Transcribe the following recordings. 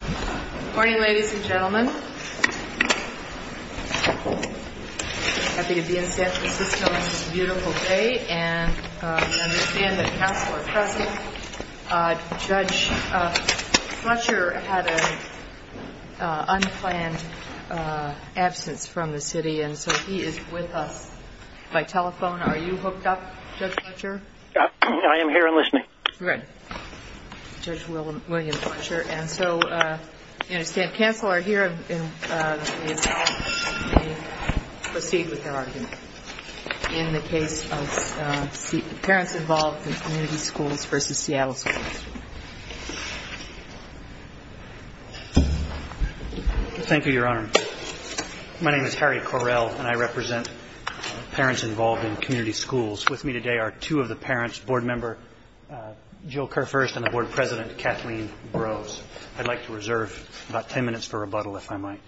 Good morning ladies and gentlemen. I'm happy to be in San Francisco on this beautiful day and we understand that counsel are present. Judge Fletcher had an unplanned absence from the city and so he is with us by telephone. Are you hooked up, Judge Fletcher? I am here and listening. Good. Judge William Fletcher. And so we understand counsel are here and may proceed with their argument in the case of Parents Involved in Community Schools v. Seattle Schools. Thank you, Your Honor. My name is Harry Correll and I represent Parents Involved in Community Schools. With me today are two of the parents, Board Member Jill Kerr-First and the Board President Kathleen Brose. I'd like to reserve about ten minutes for rebuttal if I might.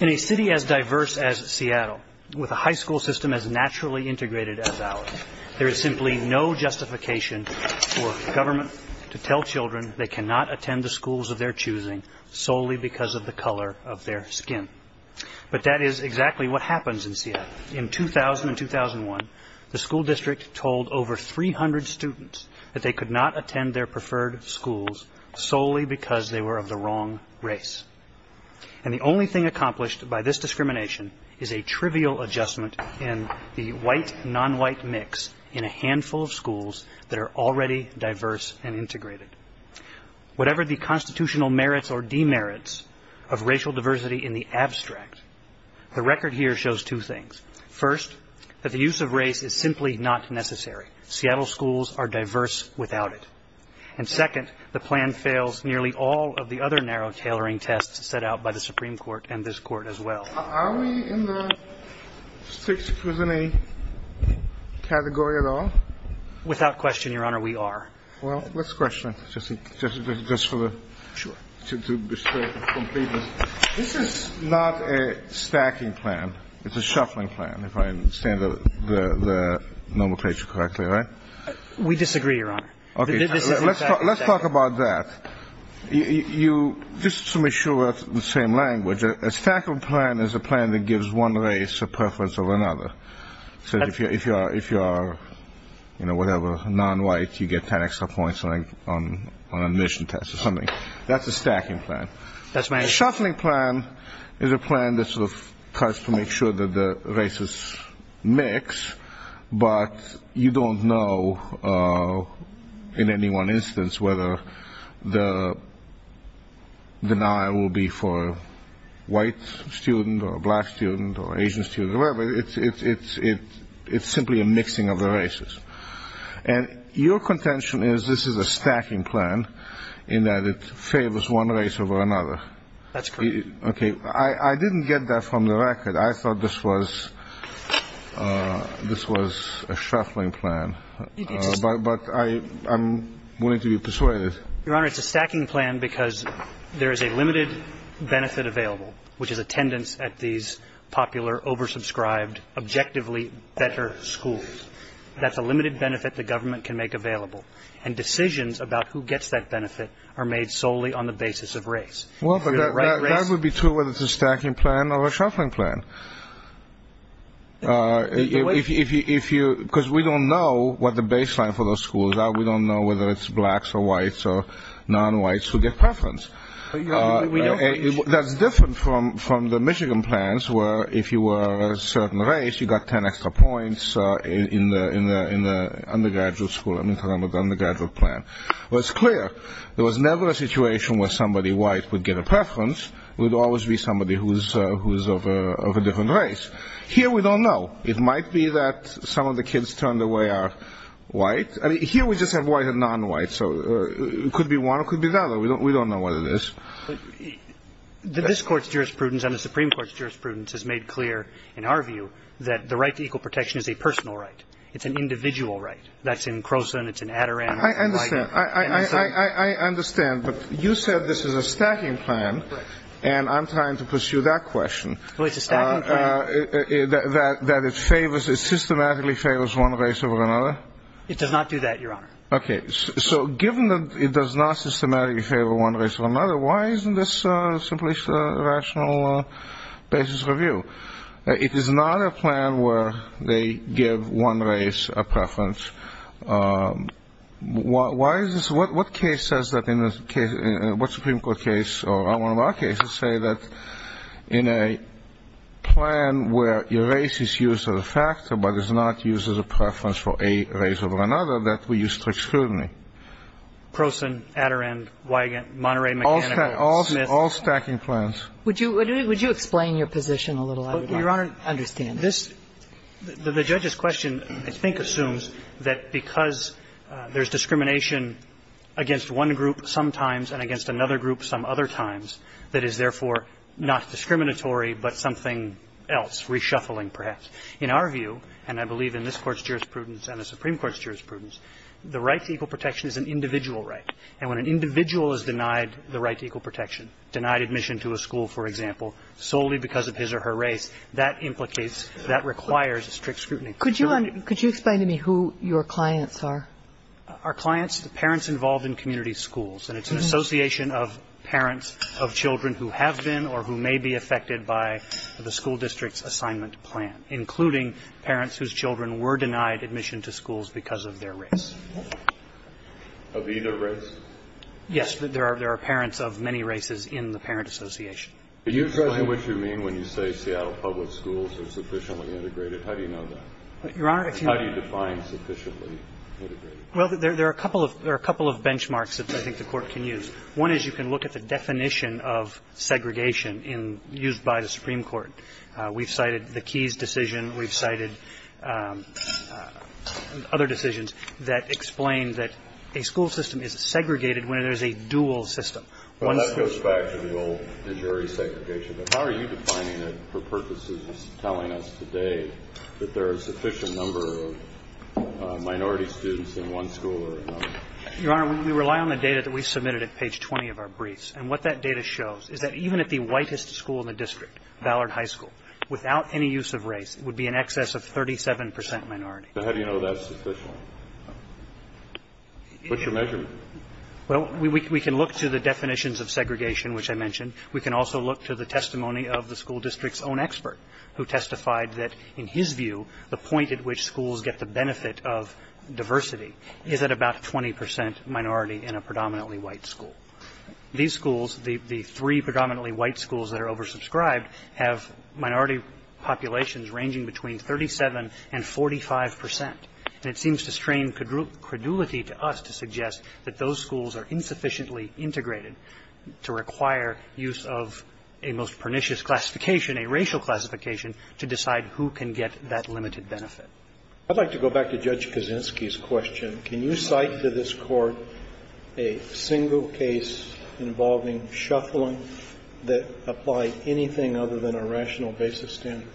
In a city as diverse as Seattle, with a high school system as naturally integrated as ours, there is simply no justification for government to tell children they cannot attend the schools of their choosing solely because of the color of their skin. But that is exactly what happens in Seattle. In 2000 and 2001, the school district told over 300 students that they could not attend their preferred schools solely because they were of the wrong race. And the only thing accomplished by this discrimination is a trivial adjustment in the white-nonwhite mix in a handful of schools that are already diverse and integrated. Whatever the constitutional merits or demerits of racial diversity in the abstract, the record here shows two things. First, that the use of race is simply not necessary. Seattle schools are diverse without it. And second, the plan fails nearly all of the other narrow tailoring tests set out by the Supreme Court and this Court as well. Are we in the strict scrutiny category at all? Without question, Your Honor, we are. Well, let's question it just for the sake of completeness. This is not a stacking plan. It's a shuffling plan, if I understand the nomenclature correctly, right? Okay, let's talk about that. Just to make sure it's the same language, a stacking plan is a plan that gives one race a preference over another. So if you are, you know, whatever, nonwhite, you get 10 extra points on an admission test or something. That's a stacking plan. A shuffling plan is a plan that sort of tries to make sure that the races mix, but you don't know in any one instance whether the denial will be for a white student or a black student or an Asian student or whoever. It's simply a mixing of the races. And your contention is this is a stacking plan in that it favors one race over another. That's correct. Okay. I didn't get that from the record. I thought this was a shuffling plan. But I'm willing to be persuaded. Your Honor, it's a stacking plan because there is a limited benefit available, which is attendance at these popular, oversubscribed, objectively better schools. That's a limited benefit the government can make available. And decisions about who gets that benefit are made solely on the basis of race. Well, that would be true whether it's a stacking plan or a shuffling plan. Because we don't know what the baseline for those schools are. We don't know whether it's blacks or whites or nonwhites who get preference. That's different from the Michigan plans where if you were a certain race, you got 10 extra points in the undergraduate school. I'm talking about the undergraduate plan. Well, it's clear there was never a situation where somebody white would get a preference. It would always be somebody who is of a different race. Here we don't know. It might be that some of the kids turned away are white. Here we just have white and nonwhite, so it could be one or it could be the other. We don't know what it is. But this Court's jurisprudence and the Supreme Court's jurisprudence has made clear, in our view, that the right to equal protection is a personal right. It's an individual right. That's in Croson. It's in Adirondack. I understand. I understand. But you said this is a stacking plan. And I'm trying to pursue that question. Well, it's a stacking plan. That it systematically favors one race over another? It does not do that, Your Honor. Okay. So given that it does not systematically favor one race over another, why isn't this simply a rational basis review? It is not a plan where they give one race a preference. Why is this? Well, what case says that in this case, what Supreme Court case, or one of our cases, say that in a plan where your race is used as a factor but is not used as a preference for a race over another, that we use strict scrutiny? Croson, Adirondack, Monterey Mechanical, Smith. All stacking plans. Would you explain your position a little? Your Honor, understand. This the judge's question, I think, assumes that because there's discrimination against one group sometimes and against another group some other times, that is, therefore, not discriminatory but something else, reshuffling, perhaps. In our view, and I believe in this Court's jurisprudence and the Supreme Court's jurisprudence, the right to equal protection is an individual right. And when an individual is denied the right to equal protection, denied admission to a school, for example, solely because of his or her race, that implicates that requires strict scrutiny. Could you explain to me who your clients are? Our clients, the parents involved in community schools. And it's an association of parents of children who have been or who may be affected by the school district's assignment plan, including parents whose children were denied admission to schools because of their race. Of either race? Yes. There are parents of many races in the parent association. Could you explain what you mean when you say Seattle Public Schools are sufficiently integrated? How do you know that? Your Honor, if you may. How do you define sufficiently integrated? Well, there are a couple of benchmarks that I think the Court can use. One is you can look at the definition of segregation used by the Supreme Court. We've cited the Keyes decision. We've cited other decisions that explain that a school system is segregated when there's a dual system. Well, that goes back to the old de jure segregation. But how are you defining it for purposes of telling us today that there are a sufficient number of minority students in one school or another? Your Honor, we rely on the data that we submitted at page 20 of our briefs. And what that data shows is that even at the whitest school in the district, Ballard High School, without any use of race, it would be in excess of 37 percent minority. So how do you know that's sufficient? What's your measurement? Well, we can look to the definitions of segregation, which I mentioned. We can also look to the testimony of the school district's own expert, who testified that in his view the point at which schools get the benefit of diversity is at about 20 percent minority in a predominantly white school. These schools, the three predominantly white schools that are oversubscribed, have minority populations ranging between 37 and 45 percent. And it seems to strain credulity to us to suggest that those schools are insufficiently integrated to require use of a most pernicious classification, a racial classification, to decide who can get that limited benefit. I'd like to go back to Judge Kaczynski's question. Can you cite to this Court a single case involving shuffling that applied anything other than a rational basis standard?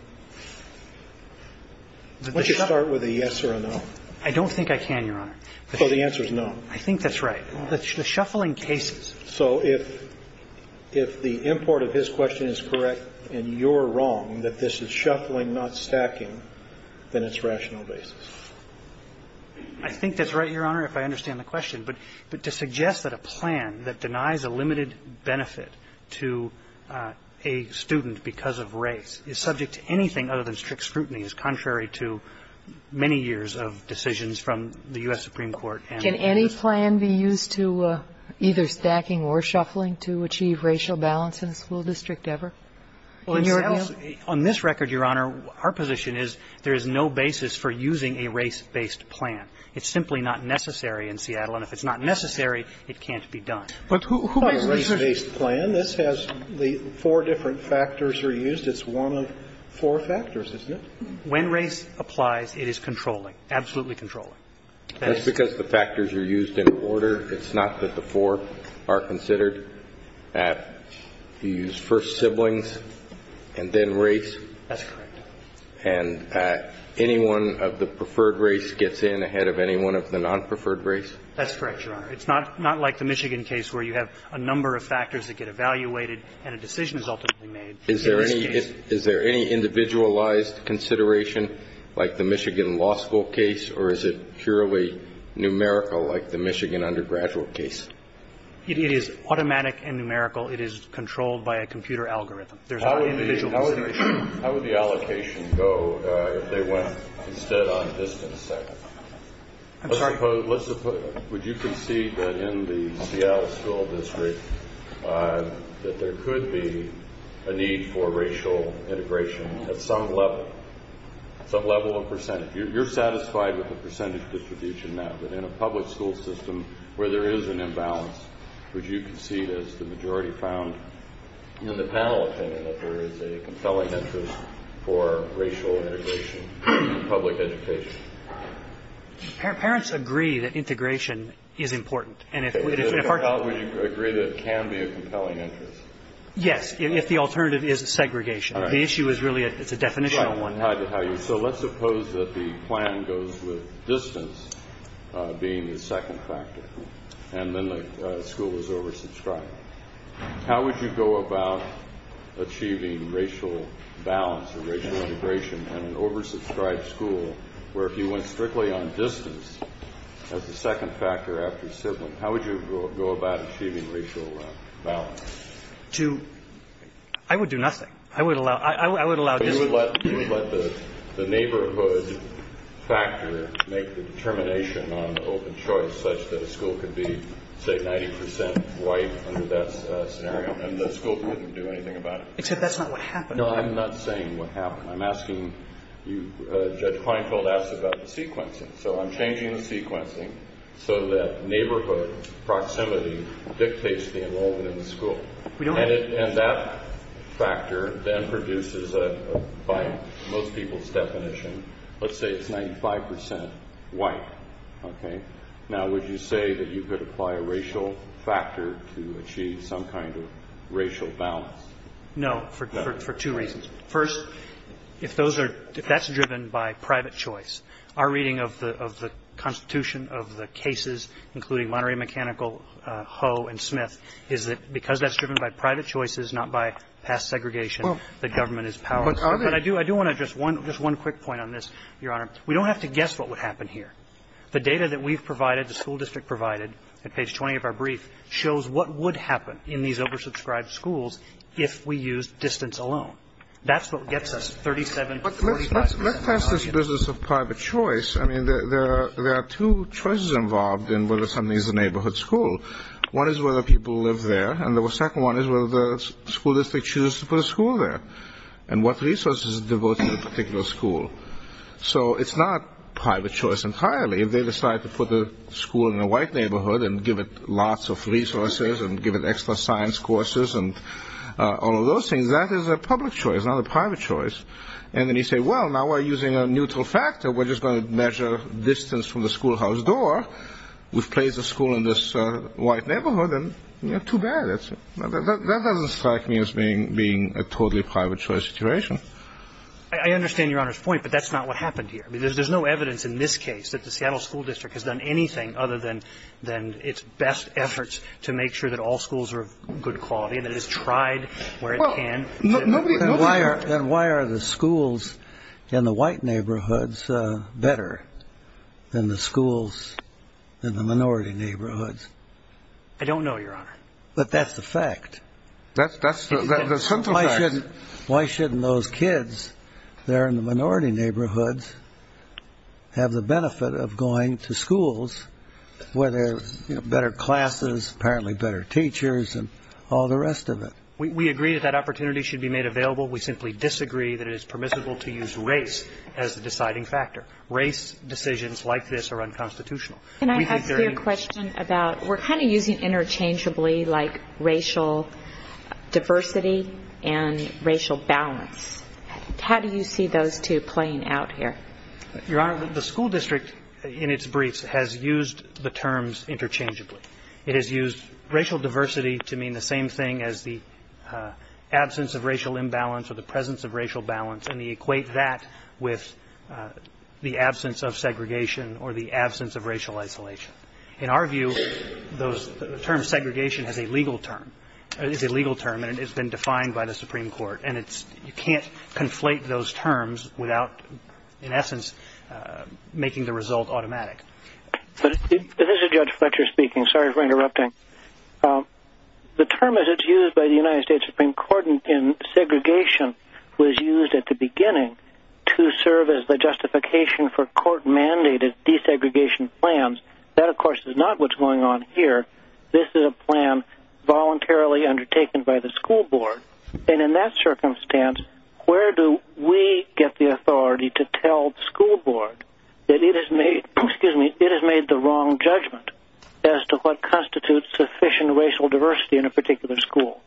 Why don't you start with a yes or a no? I don't think I can, Your Honor. Well, the answer is no. I think that's right. The shuffling cases. So if the import of his question is correct and you're wrong that this is shuffling, not stacking, then it's rational basis. I think that's right, Your Honor, if I understand the question. But to suggest that a plan that denies a limited benefit to a student because of race is subject to anything other than strict scrutiny is contrary to many years of decisions from the U.S. Supreme Court. Can any plan be used to either stacking or shuffling to achieve racial balance in a school district ever? On this record, Your Honor, our position is there is no basis for using a race-based plan. It's simply not necessary in Seattle, and if it's not necessary, it can't be done. But who makes the decision? It's not a race-based plan. This has the four different factors are used. It's one of four factors, isn't it? When race applies, it is controlling, absolutely controlling. That is. That's because the factors are used in order. It's not that the four are considered. You use first siblings and then race. That's correct. And any one of the preferred race gets in ahead of any one of the non-preferred race? That's correct, Your Honor. It's not like the Michigan case where you have a number of factors that get evaluated and a decision is ultimately made. Is there any individualized consideration like the Michigan law school case, or is it purely numerical like the Michigan undergraduate case? It is automatic and numerical. It is controlled by a computer algorithm. There's no individual consideration. How would the allocation go if they went instead on distance set? I'm sorry? Would you concede that in the Seattle school district that there could be a need for racial integration at some level, some level of percentage? You're satisfied with the percentage distribution now, but in a public school system where there is an imbalance, would you concede, as the majority found in the panel opinion, that there is a compelling interest for racial integration in public education? Parents agree that integration is important. And if our children agree that it can be a compelling interest. Yes, if the alternative is segregation. The issue is really it's a definitional one. So let's suppose that the plan goes with distance being the second factor and then the school is oversubscribed. How would you go about achieving racial balance or racial integration in an oversubscribed school where if you went strictly on distance as the second factor after sibling, how would you go about achieving racial balance? To – I would do nothing. I would allow – I would allow distance. You would let the neighborhood factor make the determination on the open choice such that a school could be, say, 90% white under that scenario and the school couldn't do anything about it? Except that's not what happened. No, I'm not saying what happened. I'm asking you – Judge Kleinfeld asked about the sequencing. So I'm changing the sequencing so that neighborhood proximity dictates the involvement in the school. And that factor then produces, by most people's definition, let's say it's 95% white. Okay? Now, would you say that you could apply a racial factor to achieve some kind of racial balance? No, for two reasons. First, if those are – if that's driven by private choice, our reading of the constitution of the cases, including Monterey Mechanical, Ho, and Smith, is that because that's driven by private choices, not by past segregation, the government is powerless. But I do want to address one – just one quick point on this, Your Honor. We don't have to guess what would happen here. The data that we've provided, the school district provided at page 20 of our brief shows what would happen in these oversubscribed schools if we used distance alone. That's what gets us 37, 45 percent. Let's pass this business of private choice. I mean, there are two choices involved in whether something is a neighborhood school. One is whether people live there, and the second one is whether the school district chooses to put a school there, and what resources are devoted to a particular school. So it's not private choice entirely. If they decide to put the school in a white neighborhood and give it lots of resources and give it extra science courses and all of those things, that is a public choice, not a private choice. And then you say, well, now we're using a neutral factor. We're just going to measure distance from the schoolhouse door. We've placed the school in this white neighborhood, and, you know, too bad. That doesn't strike me as being a totally private choice situation. I understand Your Honor's point, but that's not what happened here. I mean, there's no evidence in this case that the Seattle School District has done anything other than its best efforts to make sure that all schools are of good quality and that it has tried where it can. Then why are the schools in the white neighborhoods better than the schools in the minority neighborhoods? I don't know, Your Honor. But that's the fact. That's the fact. Why shouldn't those kids there in the minority neighborhoods have the benefit of going to schools where there are better classes, apparently better teachers, and all the rest of it? We agree that that opportunity should be made available. We simply disagree that it is permissible to use race as the deciding factor. Race decisions like this are unconstitutional. Can I ask you a question about we're kind of using interchangeably like racial diversity and racial balance. How do you see those two playing out here? Your Honor, the school district in its briefs has used the terms interchangeably. It has used racial diversity to mean the same thing as the absence of racial imbalance or the presence of racial balance, and equate that with the absence of segregation or the absence of racial isolation. In our view, the term segregation is a legal term, and it has been defined by the Supreme Court. And you can't conflate those terms without, in essence, making the result automatic. This is Judge Fletcher speaking. Sorry for interrupting. The term as it's used by the United States Supreme Court in segregation was used at the beginning to serve as the justification for court-mandated desegregation plans. That, of course, is not what's going on here. This is a plan voluntarily undertaken by the school board. And in that circumstance, where do we get the authority to tell the school board that it has made the wrong judgment as to what constitutes sufficient racial diversity in a particular school?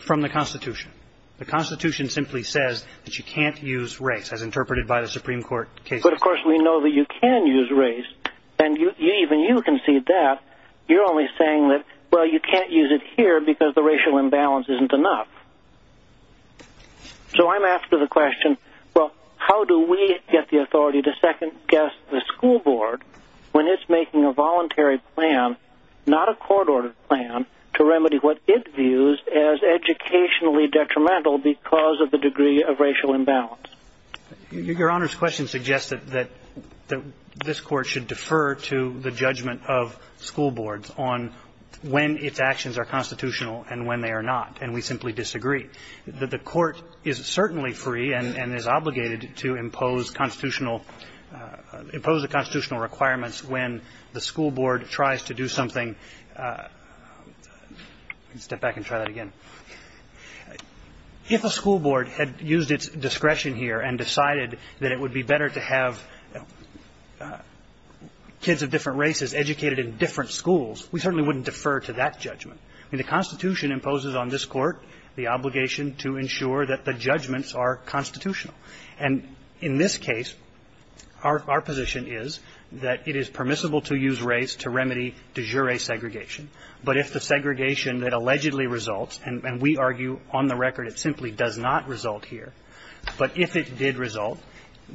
From the Constitution. The Constitution simply says that you can't use race, as interpreted by the Supreme Court cases. But, of course, we know that you can use race, and even you can see that. You're only saying that, well, you can't use it here because the racial imbalance isn't enough. So I'm asking the question, well, how do we get the authority to second-guess the school board when it's making a voluntary plan, not a court-ordered plan, to remedy what it views as educationally detrimental because of the degree of racial imbalance? Your Honor's question suggests that this Court should defer to the judgment of school boards on when its actions are constitutional and when they are not. And we simply disagree. The Court is certainly free and is obligated to impose constitutional ‑‑ impose the constitutional requirements when the school board tries to do something. I'll step back and try that again. If a school board had used its discretion here and decided that it would be better to have kids of different races educated in different schools, we certainly wouldn't defer to that judgment. The Constitution imposes on this Court the obligation to ensure that the judgments are constitutional. And in this case, our position is that it is permissible to use race to remedy de jure segregation. But if the segregation that allegedly results, and we argue on the record it simply does not result here, but if it did result,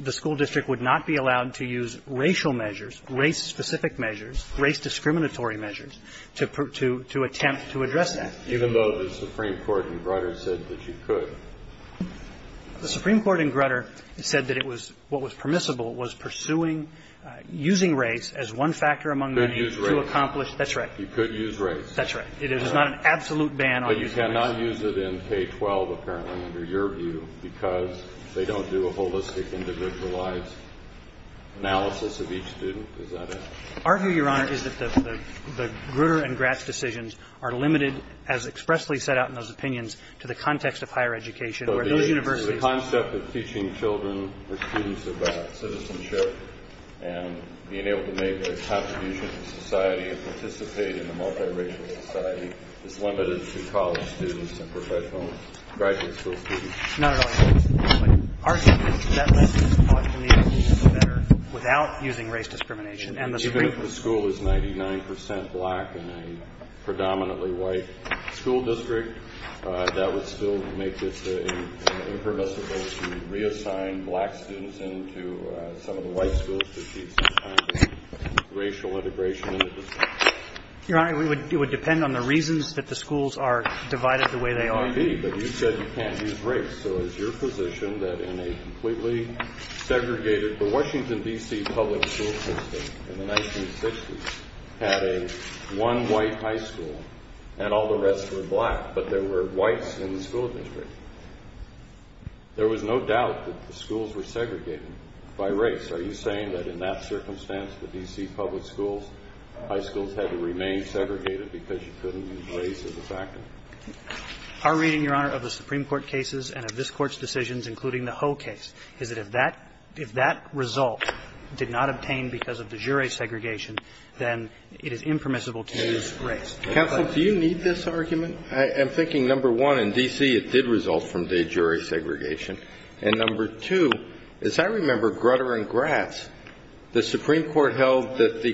the school district would not be allowed to use racial measures, race-specific measures, race-discriminatory measures, to attempt to address that. Even though the Supreme Court in Grutter said that you could. The Supreme Court in Grutter said that it was ‑‑ what was permissible was pursuing ‑‑ using race as one factor among many to accomplish ‑‑ You could use race. That's right. You could use race. That's right. It is not an absolute ban on using race. But you cannot use it in K-12, apparently, under your view, because they don't do a holistic individualized analysis of each student. Is that it? Our view, Your Honor, is that the Grutter and Gratz decisions are limited, as expressly set out in those opinions, to the context of higher education, where those universities ‑‑ The concept of teaching children or students about citizenship and being able to make a contribution to society and participate in a multiracial society is limited to college students and professional graduate school students. Not at all. Our view is that that makes the college community better without using race discrimination and the ‑‑ Even if the school is 99 percent black and a predominantly white school district, that would still make this a permissible to reassign black students into some of the white schools to see some kind of racial integration in the district. Your Honor, it would depend on the reasons that the schools are divided the way they are. It might be. But you said you can't use race. So it's your position that in a completely segregated ‑‑ the Washington, D.C., public school system in the 1960s had a one white high school and all the rest were black, but there were whites in the school district. There was no doubt that the schools were segregated by race. Are you saying that in that circumstance, the D.C. public schools, high schools had to remain segregated because you couldn't use race as a factor? Our reading, Your Honor, of the Supreme Court cases and of this Court's decisions, including the Ho case, is that if that ‑‑ if that result did not obtain because of de jure segregation, then it is impermissible to use race. Counsel, do you need this argument? I'm thinking, number one, in D.C. it did result from de jure segregation. And number two, as I remember grutter and grass, the Supreme Court held that the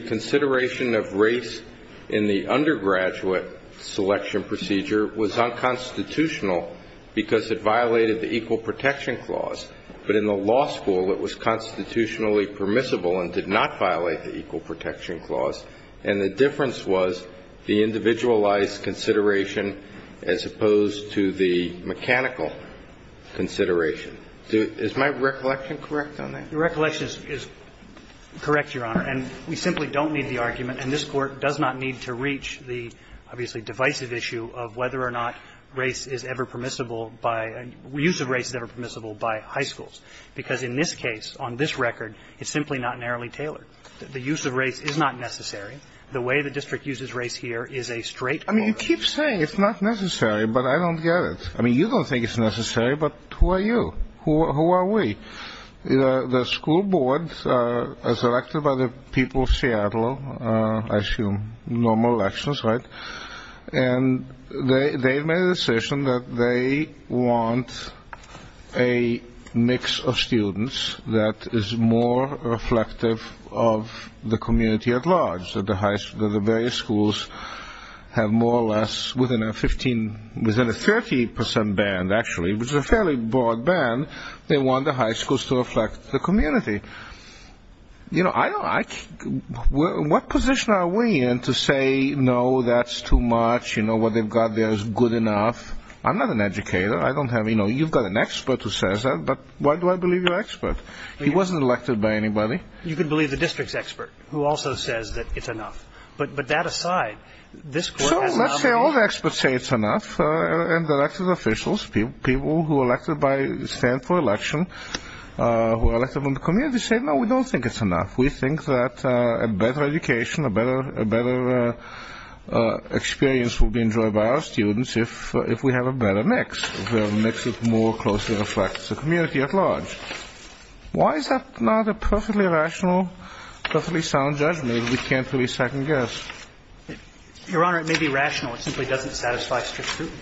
de jure was unconstitutional because it violated the Equal Protection Clause. But in the law school, it was constitutionally permissible and did not violate the Equal Protection Clause. And the difference was the individualized consideration as opposed to the mechanical consideration. Is my recollection correct on that? Your recollection is correct, Your Honor. And we simply don't need the argument. And this Court does not need to reach the, obviously, divisive issue of whether or not race is ever permissible by ‑‑ use of race is ever permissible by high schools, because in this case, on this record, it's simply not narrowly tailored. The use of race is not necessary. The way the district uses race here is a straight court. I mean, you keep saying it's not necessary, but I don't get it. I mean, you don't think it's necessary, but who are you? Who are we? The school board, as elected by the people of Seattle, I assume normal elections, right? And they made a decision that they want a mix of students that is more reflective of the community at large, that the various schools have more or less within a 15, within a 30% band, actually, which is a fairly broad band, they want the high schools to reflect the community. You know, I don't ‑‑ what position are we in to say, no, that's too much, you know, what they've got there is good enough? I'm not an educator. I don't have ‑‑ you know, you've got an expert who says that, but why do I believe you're an expert? He wasn't elected by anybody. You can believe the district's expert, who also says that it's enough. But that aside, this Court has not ‑‑ All the experts say it's enough, and elected officials, people who are elected by, stand for election, who are elected from the community say, no, we don't think it's enough. We think that a better education, a better experience will be enjoyed by our students if we have a better mix, a mix that more closely reflects the community at large. Why is that not a perfectly rational, perfectly sound judgment that we can't really second guess? Your Honor, it may be rational. It simply doesn't satisfy strict scrutiny.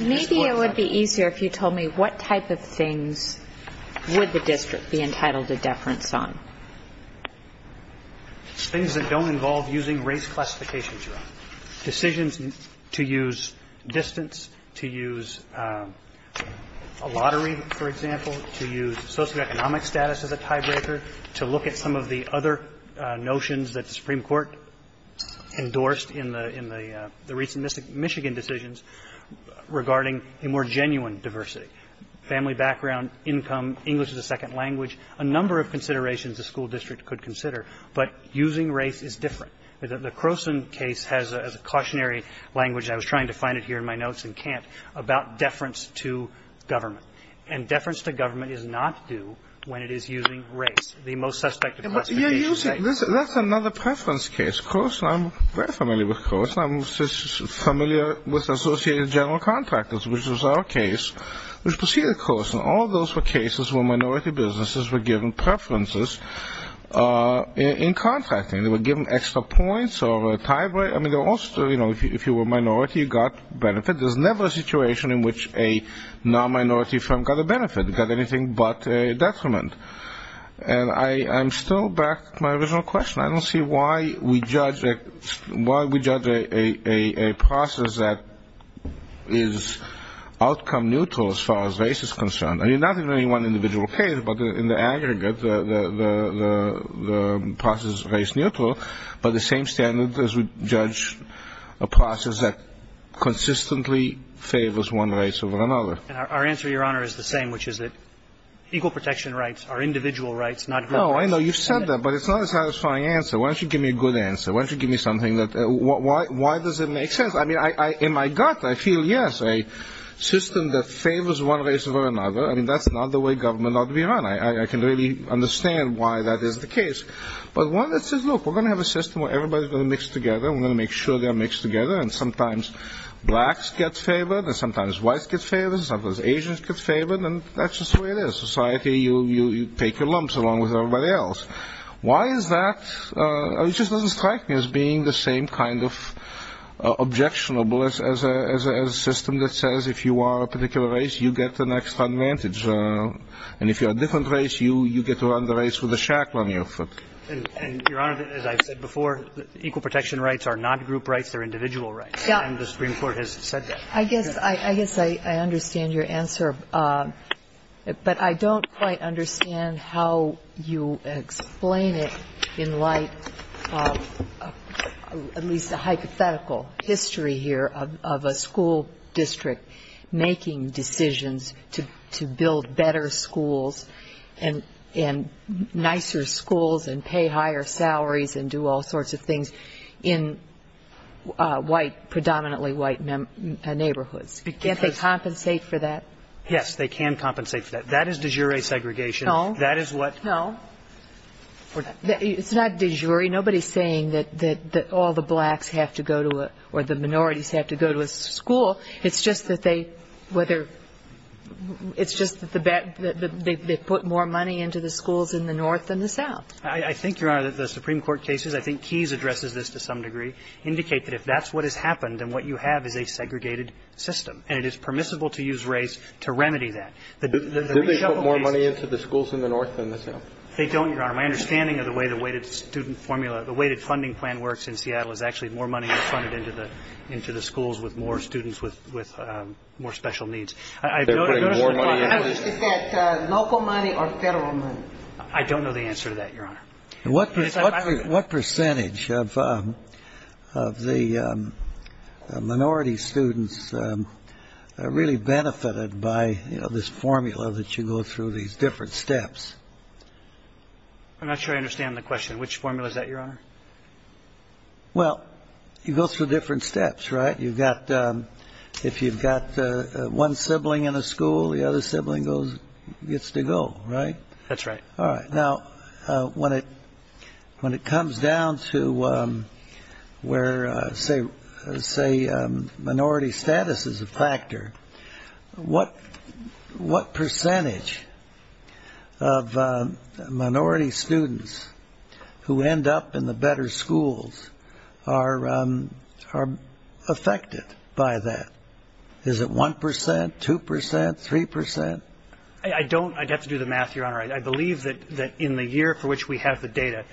Maybe it would be easier if you told me what type of things would the district be entitled to deference on? Things that don't involve using race classifications, Your Honor. Decisions to use distance, to use a lottery, for example, to use socioeconomic status as a tiebreaker, to look at some of the other notions that the Supreme Court endorsed in the ‑‑ in the recent Michigan decisions regarding a more genuine diversity, family background, income, English as a second language, a number of considerations the school district could consider, but using race is different. The Croson case has a cautionary language, and I was trying to find it here in my notes and can't, about deference to government, and deference to government is not due when it is using race, the most suspected classification. That's another preference case. Croson, I'm very familiar with Croson. I'm familiar with associated general contractors, which was our case, which proceeded Croson. All those were cases where minority businesses were given preferences in contracting. They were given extra points or a tiebreaker. I mean, also, you know, if you were a minority, you got benefit. There's never a situation in which a nonminority firm got a benefit, got anything but a detriment. And I'm still back to my original question. I don't see why we judge a process that is outcome neutral as far as race is concerned. I mean, not in any one individual case, but in the aggregate, the process is race neutral, but the same standard as we judge a process that consistently favors one race over another. And our answer, Your Honor, is the same, which is that equal protection rights are individual rights, not group rights. No, I know you've said that, but it's not a satisfying answer. Why don't you give me a good answer? Why don't you give me something that — why does it make sense? I mean, in my gut, I feel, yes, a system that favors one race over another, I mean, that's not the way government ought to be run. I can really understand why that is the case. But one that says, look, we're going to have a system where everybody's going to mix together. We're going to make sure they're mixed together. And sometimes blacks get favored, and sometimes whites get favored, and sometimes Asians get favored. And that's just the way it is. Society, you take your lumps along with everybody else. Why is that? It just doesn't strike me as being the same kind of objectionable as a system that says if you are a particular race, you get the next advantage. And if you're a different race, you get to run the race with a shackle on your foot. And, Your Honor, as I've said before, equal protection rights are not group rights. They're individual rights. Yeah. And the Supreme Court has said that. I guess I understand your answer. But I don't quite understand how you explain it in light of at least a hypothetical history here of a school district making decisions to build better schools and nicer schools and pay higher salaries and do all sorts of things in white, predominantly white neighborhoods. Can't they compensate for that? Yes, they can compensate for that. That is de jure segregation. No. No. It's not de jure. I'm sorry. Nobody is saying that all the blacks have to go to a or the minorities have to go to a school. It's just that they put more money into the schools in the north than the south. I think, Your Honor, that the Supreme Court cases, I think Keyes addresses this to some degree, indicate that if that's what has happened, then what you have is a segregated system. And it is permissible to use race to remedy that. Do they put more money into the schools in the north than the south? They don't, Your Honor. My understanding of the way the weighted student formula, the way the funding plan works in Seattle is actually more money is funded into the schools with more students with more special needs. Is that local money or federal money? I don't know the answer to that, Your Honor. What percentage of the minority students are really benefited by, you know, this formula that you go through, these different steps? I'm not sure I understand the question. Which formula is that, Your Honor? Well, you go through different steps, right? You've got if you've got one sibling in a school, the other sibling gets to go, right? That's right. All right. Now, when it comes down to where, say, minority status is a factor, what percentage of minority students who end up in the better schools are affected by that? Is it 1 percent, 2 percent, 3 percent? I don't. I'd have to do the math, Your Honor. I believe that in the year for which we have the data,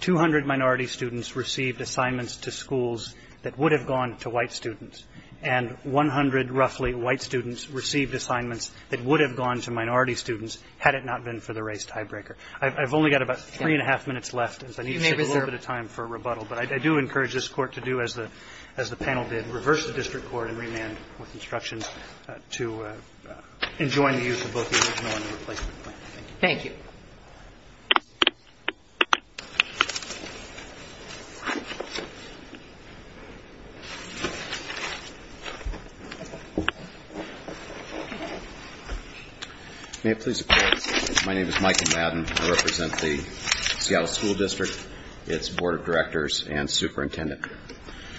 200 minority students received assignments to schools that would have gone to white students, and 100 roughly white students received assignments that would have gone to minority students had it not been for the race tiebreaker. I've only got about three and a half minutes left, as I need to take a little bit of time for rebuttal, but I do encourage this Court to do as the panel did, reverse the district with instructions to enjoin the use of both the original and the replacement plan. Thank you. May it please the Court, my name is Michael Madden. I represent the Seattle School District, its board of directors and superintendent.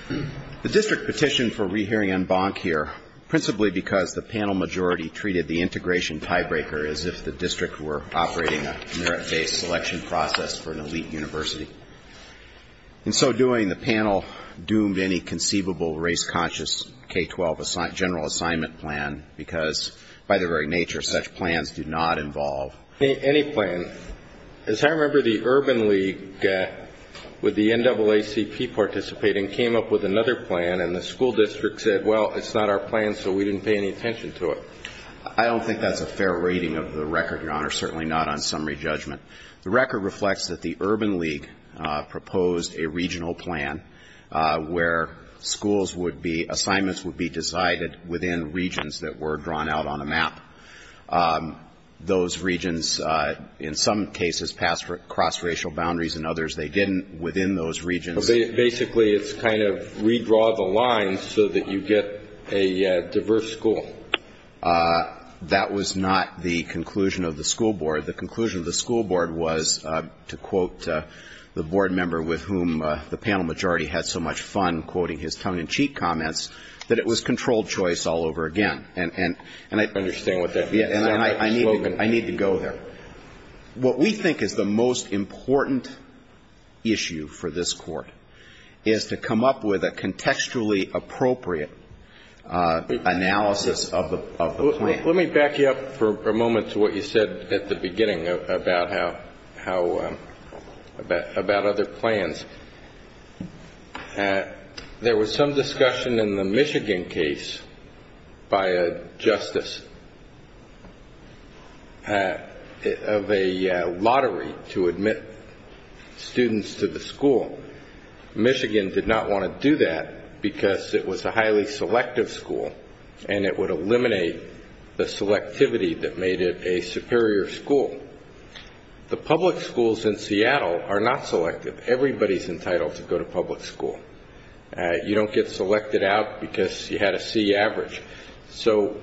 The district petitioned for rehearing en banc here, principally because the panel majority treated the integration tiebreaker as if the district were operating a merit-based selection process for an elite university. In so doing, the panel doomed any conceivable race-conscious K-12 general assignment plan because, by their very nature, such plans do not involve any plan. As I remember, the Urban League, with the NAACP participating, came up with another plan and the school district said, well, it's not our plan, so we didn't pay any attention to it. I don't think that's a fair rating of the record, Your Honor, certainly not on summary judgment. The record reflects that the Urban League proposed a regional plan where schools would be, assignments would be decided within regions that were drawn out on a map. Those regions, in some cases, passed cross-racial boundaries. In others, they didn't. Within those regions. Basically, it's kind of redraw the lines so that you get a diverse school. That was not the conclusion of the school board. The conclusion of the school board was, to quote the board member with whom the panel majority had so much fun quoting his tongue-in-cheek comments, that it was controlled choice all over again. I understand what that means. I need to go there. What we think is the most important issue for this Court is to come up with a contextually appropriate analysis of the plan. Let me back you up for a moment to what you said at the beginning about how, about other plans. There was some discussion in the Michigan case by a justice of a lottery to admit students to the school. Michigan did not want to do that because it was a highly selective school, and it would eliminate the selectivity that made it a superior school. The public schools in Seattle are not selective. Everybody is entitled to go to public school. You don't get selected out because you had a C average. So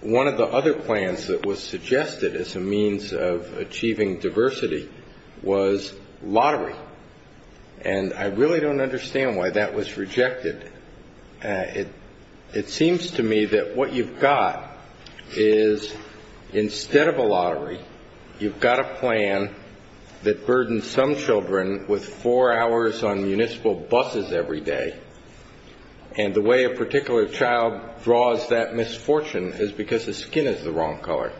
one of the other plans that was suggested as a means of achieving diversity was lottery. And I really don't understand why that was rejected. It seems to me that what you've got is, instead of a lottery, you've got a plan that burdens some children with four hours on municipal buses every day. And the way a particular child draws that misfortune is because the skin is the wrong color.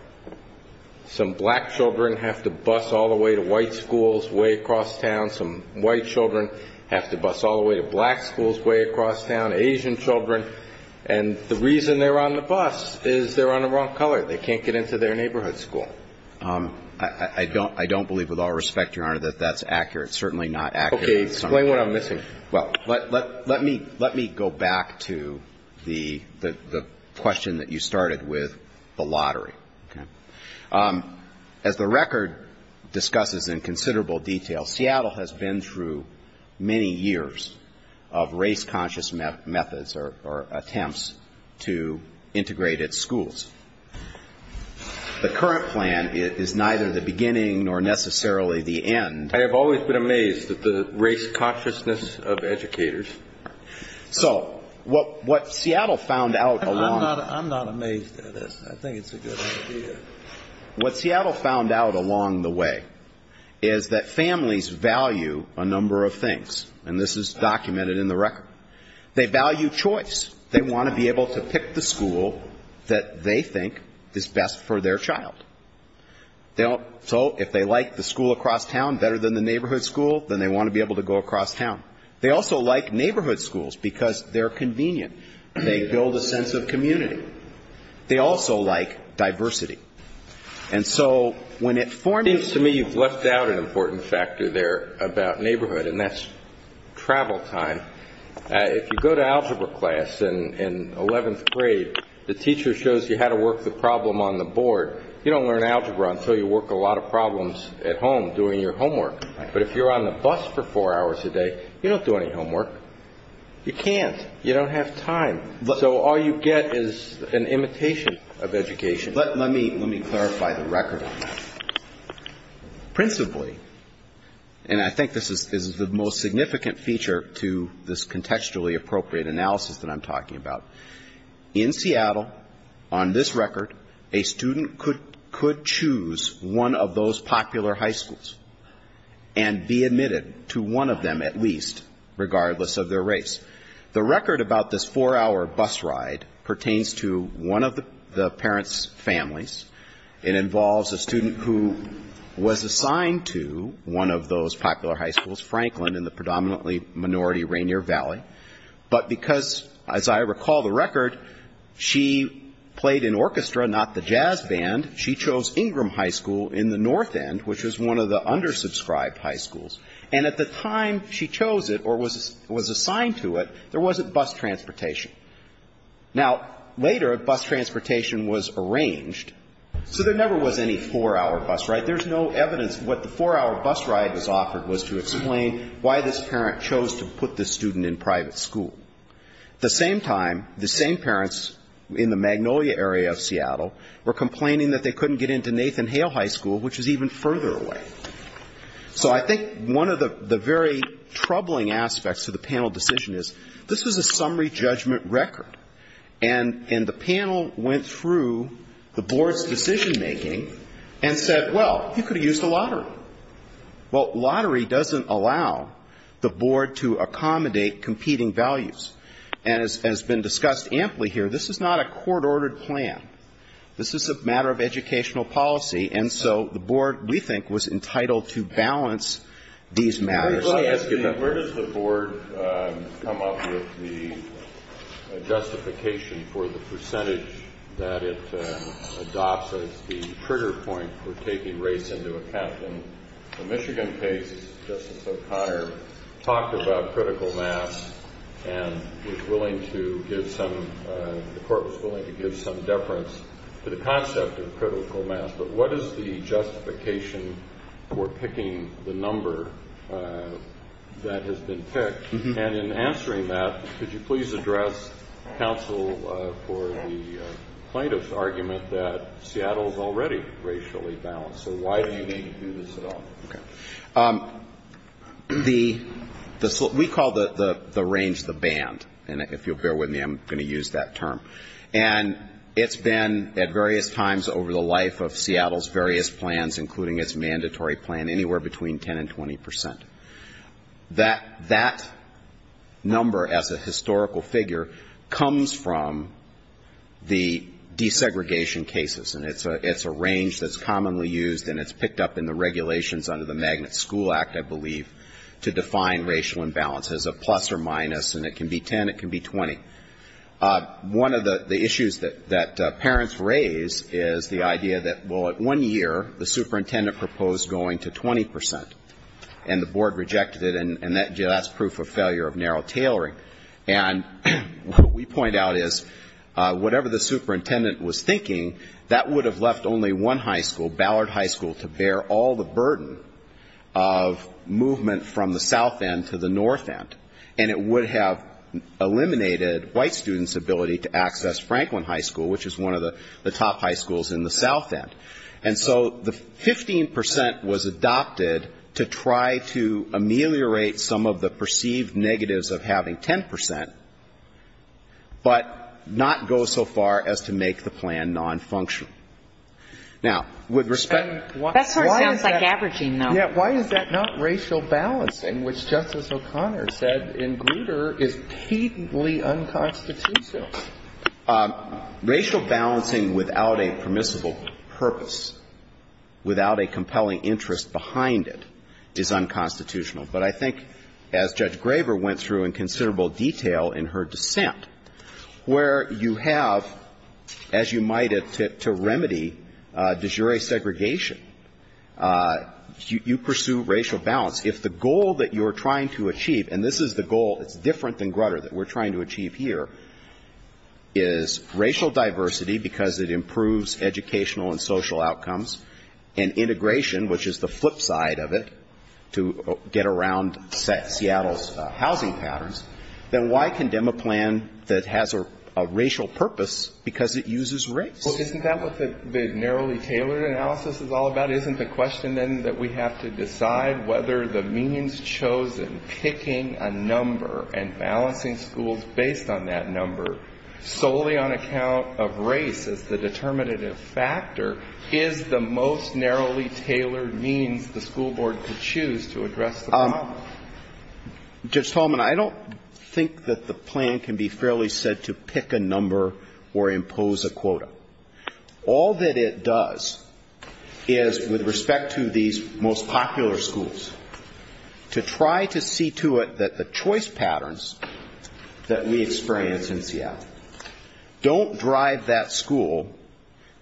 Some black children have to bus all the way to white schools way across town. Some white children have to bus all the way to black schools way across town. Asian children. And the reason they're on the bus is they're on the wrong color. They can't get into their neighborhood school. I don't believe with all respect, Your Honor, that that's accurate. It's certainly not accurate. Okay. Explain what I'm missing. Well, let me go back to the question that you started with, the lottery. Okay. As the record discusses in considerable detail, Seattle has been through many years of race-conscious methods or attempts to integrate its schools. The current plan is neither the beginning nor necessarily the end. I have always been amazed at the race-consciousness of educators. So what Seattle found out along the way... I'm not amazed at this. I think it's a good idea. What Seattle found out along the way is that families value a number of things, and this is documented in the record. They value choice. They want to be able to pick the school that they think is best for their child. So if they like the school across town better than the neighborhood school, then they want to be able to go across town. They also like neighborhood schools because they're convenient. They build a sense of community. They also like diversity. And so when it forms... It seems to me you've left out an important factor there about neighborhood, and that's travel time. If you go to algebra class in 11th grade, the teacher shows you how to work the problem on the board. You don't learn algebra until you work a lot of problems at home doing your homework. But if you're on the bus for four hours a day, you don't do any homework. You can't. You don't have time. So all you get is an imitation of education. Let me clarify the record on that. Principally, and I think this is the most significant feature to this contextually appropriate analysis that I'm talking about, in Seattle, on this record, a student could choose one of those popular high schools and be admitted to one of them at least, regardless of their race. The record about this four-hour bus ride pertains to one of the parents' families. It involves a student who was assigned to one of those popular high schools, Franklin, in the predominantly minority Rainier Valley. But because, as I recall the record, she played in orchestra, not the jazz band, she chose Ingram High School in the north end, which was one of the undersubscribed high schools. And at the time she chose it or was assigned to it, there wasn't bus transportation. Now, later, bus transportation was arranged. So there never was any four-hour bus ride. There's no evidence what the four-hour bus ride was offered was to explain why this parent chose to put this student in private school. At the same time, the same parents in the Magnolia area of Seattle were complaining that they couldn't get into Nathan Hale High School, which is even further away. So I think one of the very troubling aspects of the panel decision is this was a summary judgment record. And the panel went through the board's decision making and said, well, you could have used a lottery. Well, lottery doesn't allow the board to accommodate competing values. And as has been discussed amply here, this is not a court-ordered plan. This is a matter of educational policy. And so the board, we think, was entitled to balance these matters. Kennedy, where does the board come up with the justification for the percentage that it adopts as the trigger point for taking race into account? In the Michigan case, Justice O'Connor talked about critical mass and was willing to give some the court was willing to give some deference to the concept of critical mass, but what is the justification for picking the number that has been picked? And in answering that, could you please address counsel for the plaintiff's argument that Seattle is already racially balanced? So why do you need to do this at all? We call the range the band. And if you'll bear with me, I'm going to use that term. And it's been at various times over the life of Seattle's various plans, including its mandatory plan, anywhere between 10 and 20 percent. That number as a historical figure comes from the desegregation cases, and it's a range that's commonly used and it's picked up in the regulations under the Magnet School Act, I believe, to define racial imbalance as a plus or minus, and it can be 10, it can be 20. One of the issues that parents raise is the idea that, well, at one year, the superintendent proposed going to 20 percent, and the board rejected it, and that's proof of failure of narrow tailoring. And what we point out is whatever the superintendent was thinking, that would have left only one high school, Ballard High School, to bear all the burden of movement from the south end. And so the 15 percent was adopted to try to ameliorate some of the perceived negatives of having 10 percent, but not go so far as to make the plan nonfunctional. Now, with respect to why is that not racial balancing, which Justice O'Connor said in Grutter is unconstitutional? Racial balancing without a permissible purpose, without a compelling interest behind it, is unconstitutional. But I think, as Judge Graver went through in considerable detail in her dissent, where you have, as you might have, to remedy de jure segregation, you pursue racial balance. If the goal that you are trying to achieve, and this is the goal that's different than Grutter, that we're trying to achieve here, is racial diversity, because it improves educational and social outcomes, and integration, which is the flip side of it, to get around Seattle's housing patterns, then why condemn a plan that has a racial purpose because it uses race? Well, isn't that what the narrowly tailored analysis is all about? Isn't the question then that we have to decide whether the means chosen, picking a number and balancing schools based on that number, solely on account of race as the determinative factor, is the most narrowly tailored means the school board could choose to address the problem? Judge Talman, I don't think that the plan can be fairly said to pick a number or impose a quota. All that it does is, with respect to these most popular schools, to try to see to it that the choice patterns that we experience in Seattle don't drive that school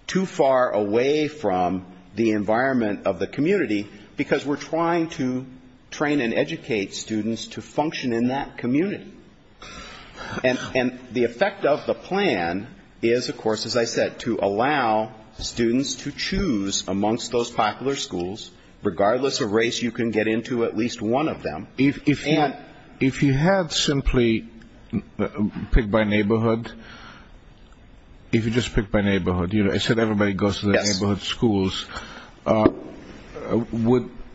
too far away from the environment of the community, because we're trying to train and educate students to function in that community. And the effect of the plan is, of course, as I said, to allow students to choose amongst those popular schools, regardless of race, you can get into at least one of them. If you had simply picked by neighborhood, if you just picked by neighborhood, I said everybody goes to the neighborhood schools,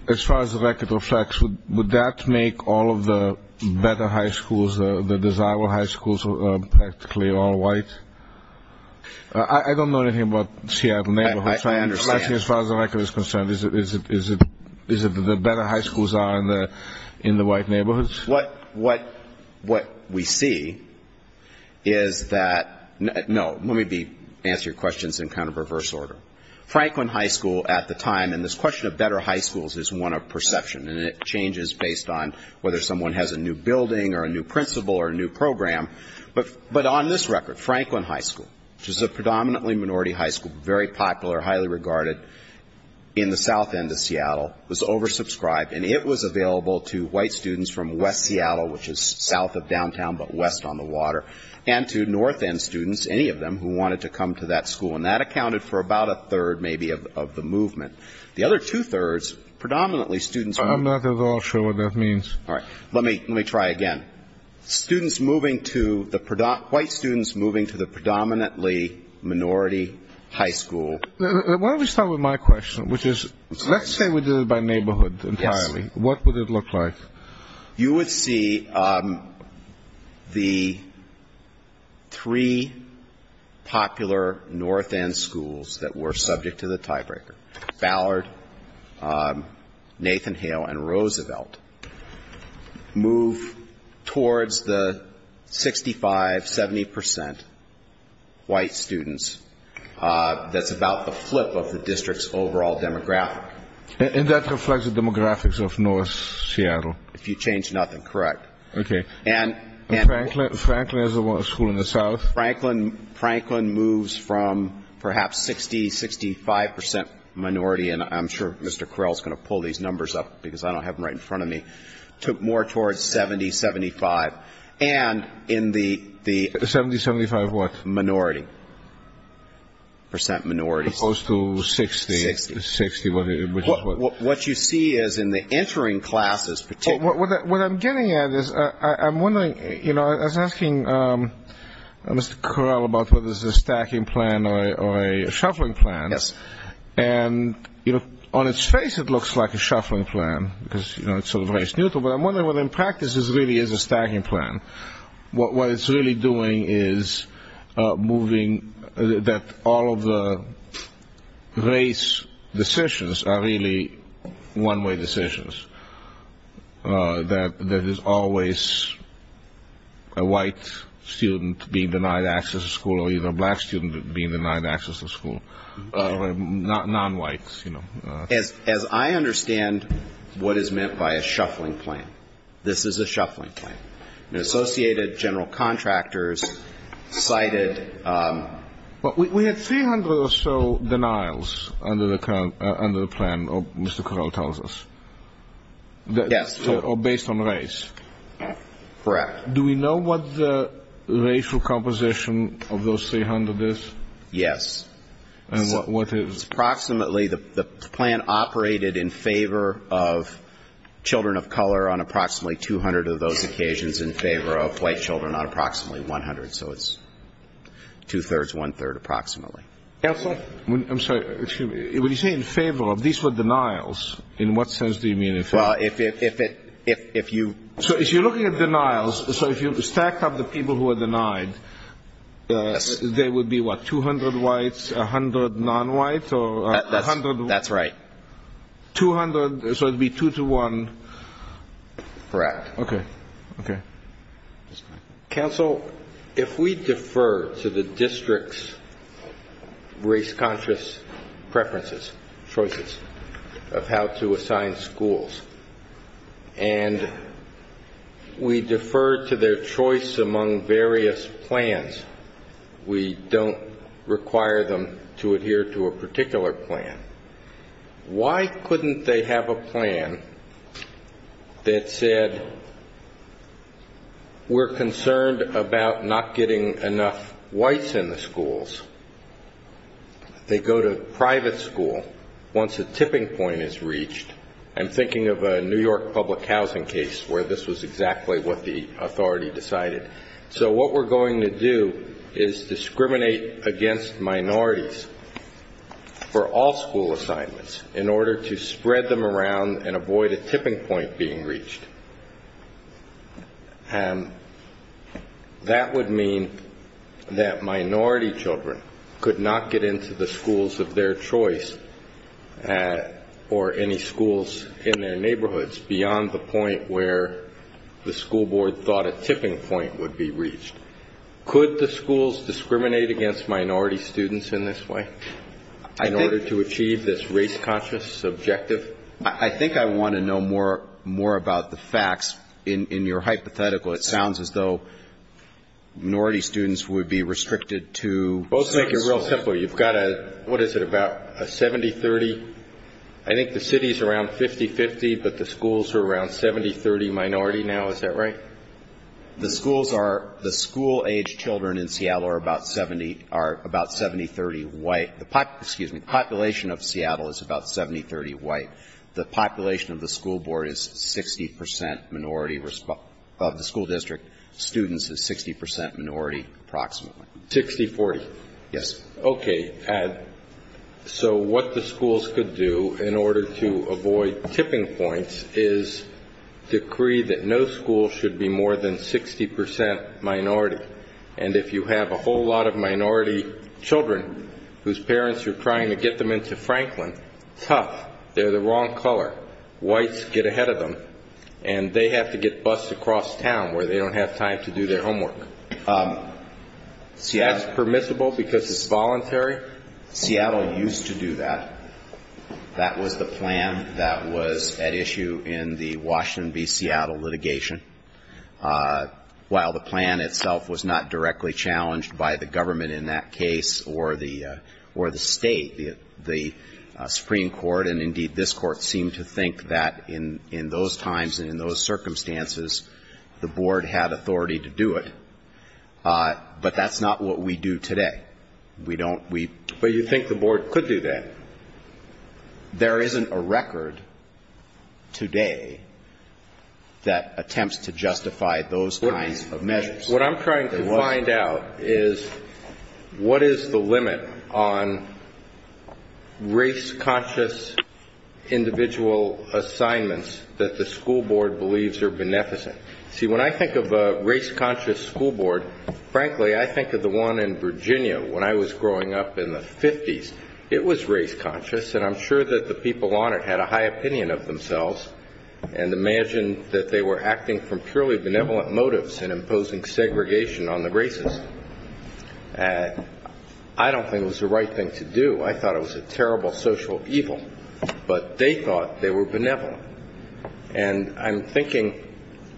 as far as the record reflects, would that make all of the better high schools, the desirable high schools, practically all white? I don't know anything about Seattle neighborhoods. As far as the record is concerned, is it that the better high schools are in the white neighborhoods? What we see is that no, let me answer your questions in kind of reverse order. Franklin High School at the time, and this question of better high schools is one of perception, and it changes based on whether someone has a new building or a new principal or a new program, but on this record, Franklin High School, which is a predominantly minority high school, very popular, highly regarded in the south end of Seattle, was oversubscribed and it was available to white students from west Seattle, which is south of downtown but west on the water, and to north end students, any of them who wanted to come to that school, and that accounted for about a third, maybe, of the movement. The other two-thirds, predominantly students were not. I'm not at all sure what that means. All right. Let me try again. Students moving to the, white students moving to the predominantly minority high school. Why don't we start with my question, which is, let's say we did it by neighborhood entirely. What would it look like? You would see the three popular north end schools that were subject to the tiebreaker, Ballard, Nathan Hale and Roosevelt, move towards the 65, 70% white students. That's about the flip of the district's overall demographic. And that reflects the demographics of north Seattle? If you change nothing, correct. Okay. And Franklin is the one school in the south? Franklin moves from perhaps 60, 65% minority, and I'm sure Mr. Correll is going to pull these numbers up, because I don't have them right in front of me, more towards 70, 75. And in the 70, 75 what? Minority. Percent minorities. As opposed to 60. 60. 60, which is what? What you see is in the entering classes, particularly What I'm getting at is, I'm wondering, you know, I was asking Mr. Correll about whether this is a stacking plan or a shuffling plan, and on its face it looks like a shuffling plan, because it's sort of race neutral, but I'm wondering whether in practice this really is a stacking plan. What it's really doing is moving, that all of the race decisions are really one-way decisions. That there is always a white student being denied access to school, or either a black student being denied access to school, or non-whites, you know. As I understand what is meant by a shuffling plan, this is a shuffling plan. Associated general contractors cited But we had 300 or so denials under the plan, or Mr. Correll tells us. Yes. Or based on race. Correct. Do we know what the racial composition of those 300 is? Yes. Approximately, the plan operated in favor of children of color on approximately 200 of those occasions, in favor of white children on approximately 100. So it's two-thirds, one-third approximately. Counsel? I'm sorry. When you say in favor of, these were denials, in what sense do you mean in favor of? Well, if you So if you're looking at denials, so if you stacked up the people who were denied, they would be what, 200 whites, 100 non-whites, or 100 That's right. 200, so it would be two to one Correct. Counsel, if we defer to the district's race-conscious preferences, choices of how to assign schools, and we defer to their choice among various plans, we don't require them to adhere to a particular plan, why couldn't they have a plan that said We're concerned about not getting enough whites in the schools. They go to private school once a tipping point is reached. I'm thinking of a New York public housing case where this was exactly what the authority decided. So what we're going to do is discriminate against minorities for all school assignments in order to spread them around and avoid a tipping point being reached. That would mean that minority children could not get into the schools of their choice or any schools in their neighborhoods beyond the point where the school board thought a tipping point would be reached. Could the schools discriminate against minority students in this way in order to achieve this race-conscious objective? I think I want to know more about the facts. In your hypothetical, it sounds as though minority students would be restricted to certain schools. Let's make it real simple. You've got a, what is it, about a 70-30? I think the city is around 50-50, but the schools are around 70-30 minority now, is that right? The schools are, the school-age children in Seattle are about 70, are about 70-30 white. The population of Seattle is about 70-30 white. The population of the school board is 60 percent minority, of the school district students is 60 percent minority approximately. 60-40? Yes. Okay. So what the schools could do in order to avoid tipping points is decree that no school should be more than 60 percent minority. And if you have a whole lot of minority children whose parents are trying to get them into Franklin, tough. They're the wrong color. Whites get ahead of them. And they have to get bussed across town where they don't have time to do their homework. Is that permissible because it's voluntary? Seattle used to do that. That was the plan that was at issue in the Washington v. Seattle litigation. While the plan itself was not directly challenged by the government in that case or the State, the Supreme Court, and indeed this Court seemed to think that in those times and in those circumstances, the board had authority to do it. But that's not what we do today. But you think the board could do that? There isn't a record today that attempts to justify those kinds of measures. What I'm trying to find out is what is the limit on race-conscious individual assignments that the school board believes are beneficent? See, when I think of a race-conscious school board, frankly, I think of the one in Virginia when I was growing up in the 50s. It was race-conscious, and I'm sure that the people on it had a high opinion of themselves and imagined that they were acting from purely benevolent motives and imposing segregation on the races. I don't think it was the right thing to do. I thought it was a terrible social evil. But they thought they were benevolent. And I'm thinking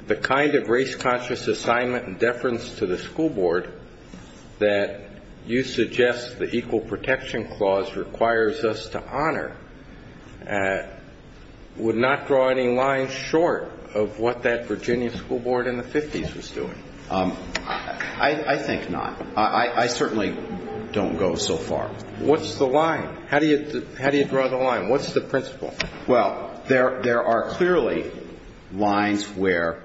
the kind of race-conscious assignment and deference to the school board that you suggest the equal protection clause requires us to honor would not draw any lines short of what that Virginia school board in the 50s was doing. I think not. I certainly don't go so far. What's the line? How do you draw the line? What's the principle? Well, there are clearly lines where,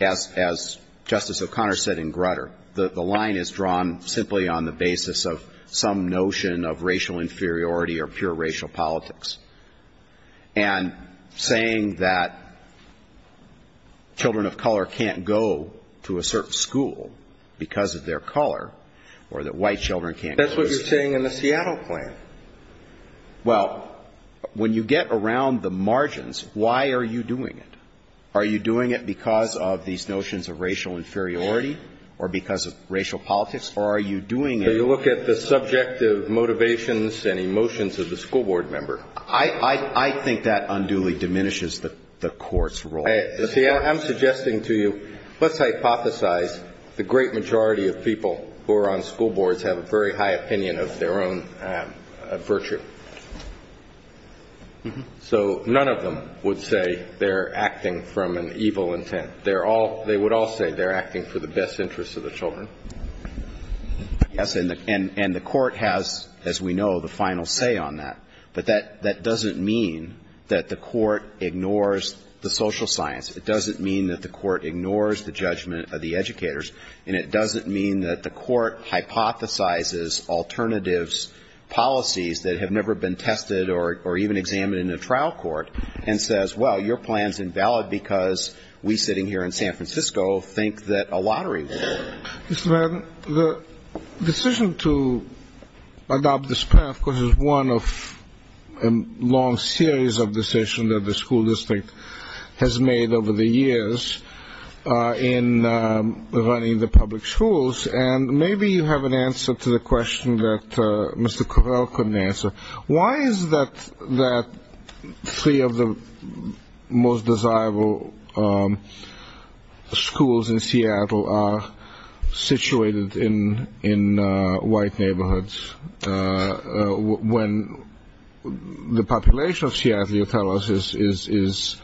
as Justice O'Connor said in Grutter, the line is drawn simply on the basis of some notion of racial inferiority or pure racial politics. And saying that children of color can't go to a certain school because of their color, or that white children can't go to a certain school. That's what you're saying in the Seattle plan. Well, when you get around the margins, why are you doing it? Are you doing it because of these notions of racial inferiority or because of racial inferiority? I think that unduly diminishes the Court's role. See, I'm suggesting to you, let's hypothesize the great majority of people who are on school boards have a very high opinion of their own virtue. So none of them would say they're acting from an evil intent. They would all say they're acting for the best interests of the children. Yes, and the Court has, as we know, the final say on that. But that doesn't mean that the Court ignores the social science. It doesn't mean that the Court ignores the judgment of the educators. And it doesn't mean that the Court hypothesizes alternatives, policies that have never been tested or even examined in a trial court and says, well, your plan's invalid because we sitting here in San Francisco think that a lottery will win. Yes, ma'am. The decision to adopt this plan, of course, is one of a long series of decisions that the school district has made over the years in running the public schools. And maybe you have an answer to the question that Mr. Correll couldn't answer. Why is it that three of the most desirable schools in Seattle are situated in San Francisco? They're situated in white neighborhoods when the population of Seattle, you tell us, is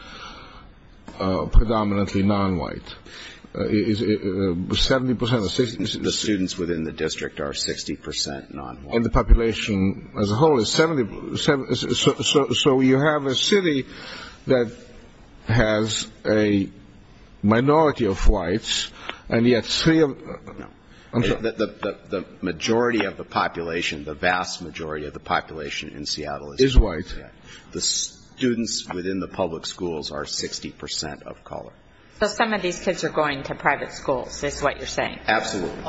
predominantly non-white. The students within the district are 60% non-white. And the population as a whole is 70%. So you have a city that has a minority of whites, and yet three of them, no, I'm sorry. The majority of the population, the vast majority of the population in Seattle is white. The students within the public schools are 60% of color. So some of these kids are going to private schools, is what you're saying? Absolutely.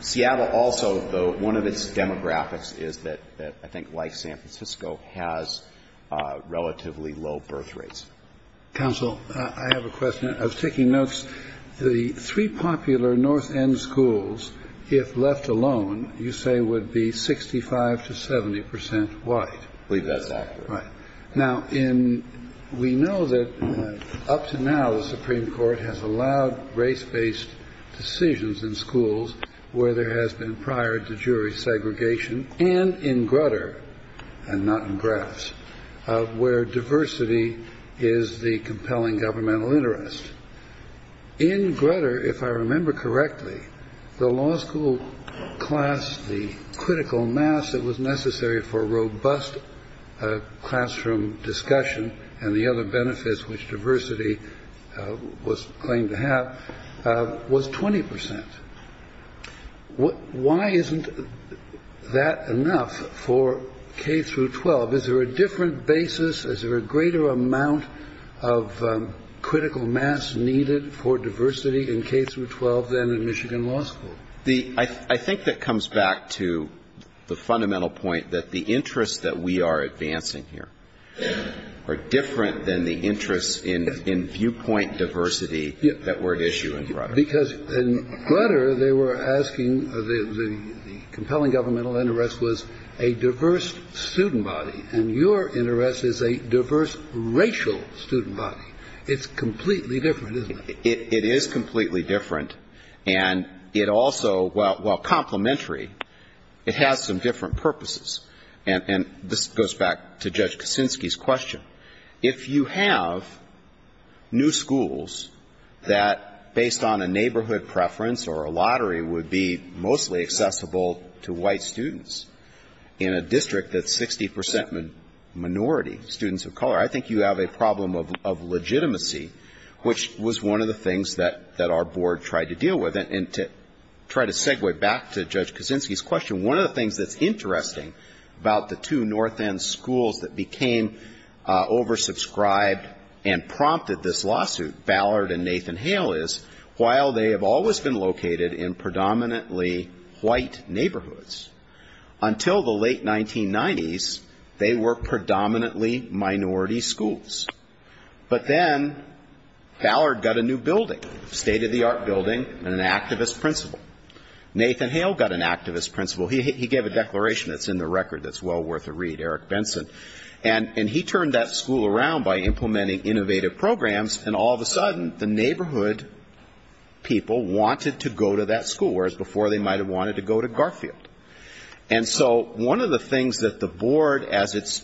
Seattle also, though, one of its demographics is that I think, like San Francisco, has relatively low birth rates. Counsel, I have a question. I was taking notes. The three popular north end schools, if left alone, you say would be 65 to 70% white. Right. Now, we know that up to now, the Supreme Court has allowed race based decisions in schools where there has been prior to jury segregation and in Grutter, and not in Graff's, where diversity is the compelling governmental interest. In Grutter, if I remember correctly, the law school class, the critical mass that was necessary for a robust educational system. And the other benefits, which diversity was claimed to have, was 20%. Why isn't that enough for K through 12? Is there a different basis? Is there a greater amount of critical mass needed for diversity in K through 12 than in Michigan law school? I think that comes back to the fundamental point that the interests that we are advancing here are different than the interests in viewpoint diversity that were at issue in Grutter. Because in Grutter, they were asking, the compelling governmental interest was a diverse student body, and your interest is a diverse racial student body. It's completely different, isn't it? It is completely different, and it also, while complementary, it has some different purposes. And this goes back to Judge Kuczynski's question. If you have new schools that, based on a neighborhood preference or a lottery, would be mostly accessible to white students in a district that's 60% minority, students of color, I think you have a problem of legitimacy. Which was one of the things that our board tried to deal with. And to try to segue back to Judge Kuczynski's question, one of the things that's interesting about the two North End schools that became oversubscribed and prompted this lawsuit, Ballard and Nathan Hale, is while they have always been located in predominantly white neighborhoods, until the late 1990s, they were predominantly minority schools. But then Ballard got a new building, a state-of-the-art building, and an activist principal. Nathan Hale got an activist principal. He gave a declaration that's in the record that's well worth a read, Eric Benson. And he turned that school around by implementing innovative programs, and all of a sudden, the neighborhood people wanted to go to that school, whereas before they might have wanted to go to Garfield. And so one of the things that the board, as it's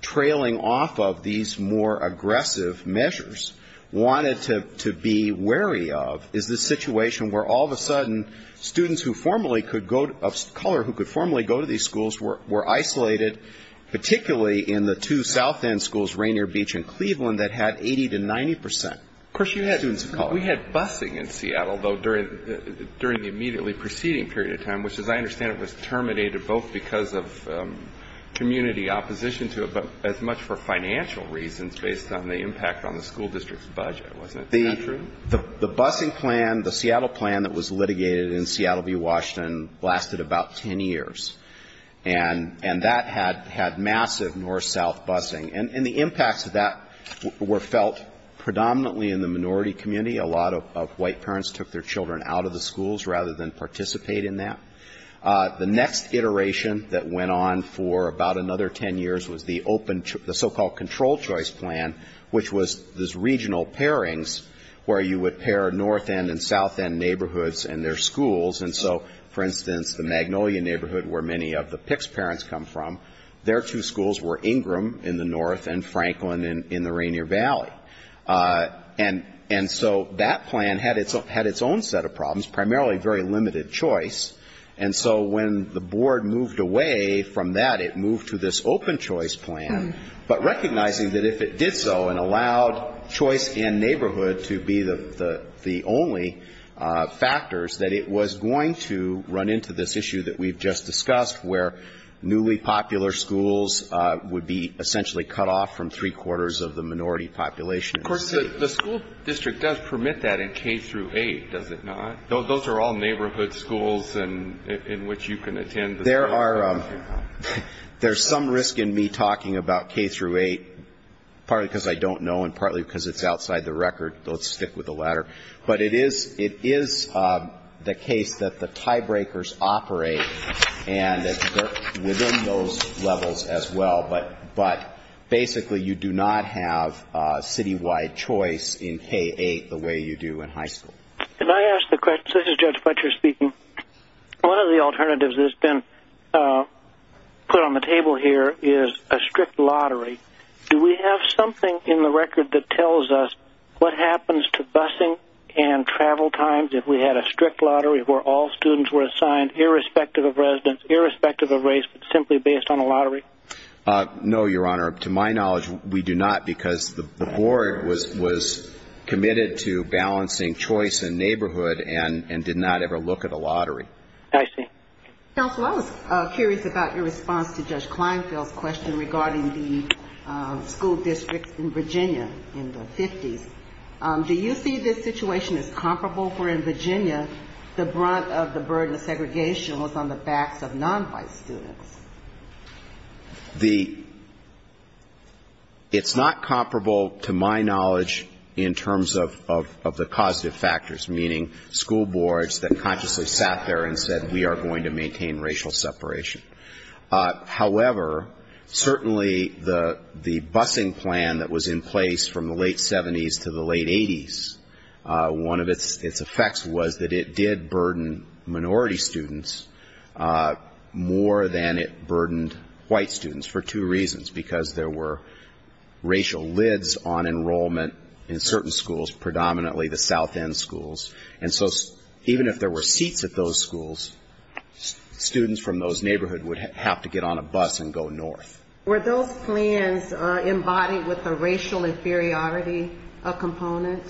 trailing off of these more aggressive measures, wanted to be wary of is this situation where all of a sudden, students of color who could formally go to these schools were isolated, particularly in the two South End schools, Rainier Beach and Cleveland, that had 80 to 90% students of color. We had busing in Seattle, though, during the immediately preceding period of time, which, as I understand it, was terminated both because of community opposition to it, but as much for financial reasons based on the impact on the school district's budget, wasn't that true? The busing plan, the Seattle plan that was litigated in Seattle v. Washington, lasted about 10 years. And that had massive north-south busing. And the impacts of that were felt predominantly in the minority community. A lot of white parents took their children out of the schools rather than participate in that. The next iteration that went on for about another 10 years was the so-called control choice plan, which was these regional pairings where you would pair north-end and south-end neighborhoods and their schools. And so, for instance, the Magnolia neighborhood, where many of the PICS parents come from, their two schools were Ingram in the north and Franklin in the Rainier Valley. And so that plan had its own set of problems, primarily very limited choice. And so when the board moved away from that, it moved to this open choice plan. But recognizing that if it did so and allowed choice in neighborhood to be the only factors, that it was going to be an open choice plan. And so we're going to run into this issue that we've just discussed, where newly popular schools would be essentially cut off from three-quarters of the minority population. Of course, the school district does permit that in K-8, does it not? Those are all neighborhood schools in which you can attend. There's some risk in me talking about K-8, partly because I don't know and partly because it's outside the record. Let's stick with the latter. But it is the case that the tiebreakers operate and that they're within those levels as well. But basically, you do not have citywide choice in K-8 the way you do in high school. Judge Fletcher speaking. One of the alternatives that's been put on the table here is a strict lottery. Do we have something in the record that tells us what happens to busing and travel times if we had a strict lottery where all students were assigned, irrespective of residence, irrespective of race, but simply based on a lottery? No, Your Honor. To my knowledge, we do not, because the board was committed to balancing choice in neighborhood and did not ever look at a lottery. I see. Counsel, I was curious about your response to Judge Kleinfeld's question regarding the school districts in Virginia in the 50s. Do you see this situation as comparable, for in Virginia, the brunt of the burden of segregation was on the backs of nonwhite students? It's not comparable to my knowledge in terms of the causative factors, meaning school boards that consciously sat there and said, we are going to maintain racial separation. However, certainly the busing plan that was in place from the late 70s to the late 80s, one of its effects was that it did burden minority students more than it burdened white students for two reasons, because there were racial lids on enrollment in certain schools, predominantly the south end schools. And so even if there were seats at those schools, students from those neighborhoods would have to get on a bus and go north. Were those plans embodied with a racial inferiority component?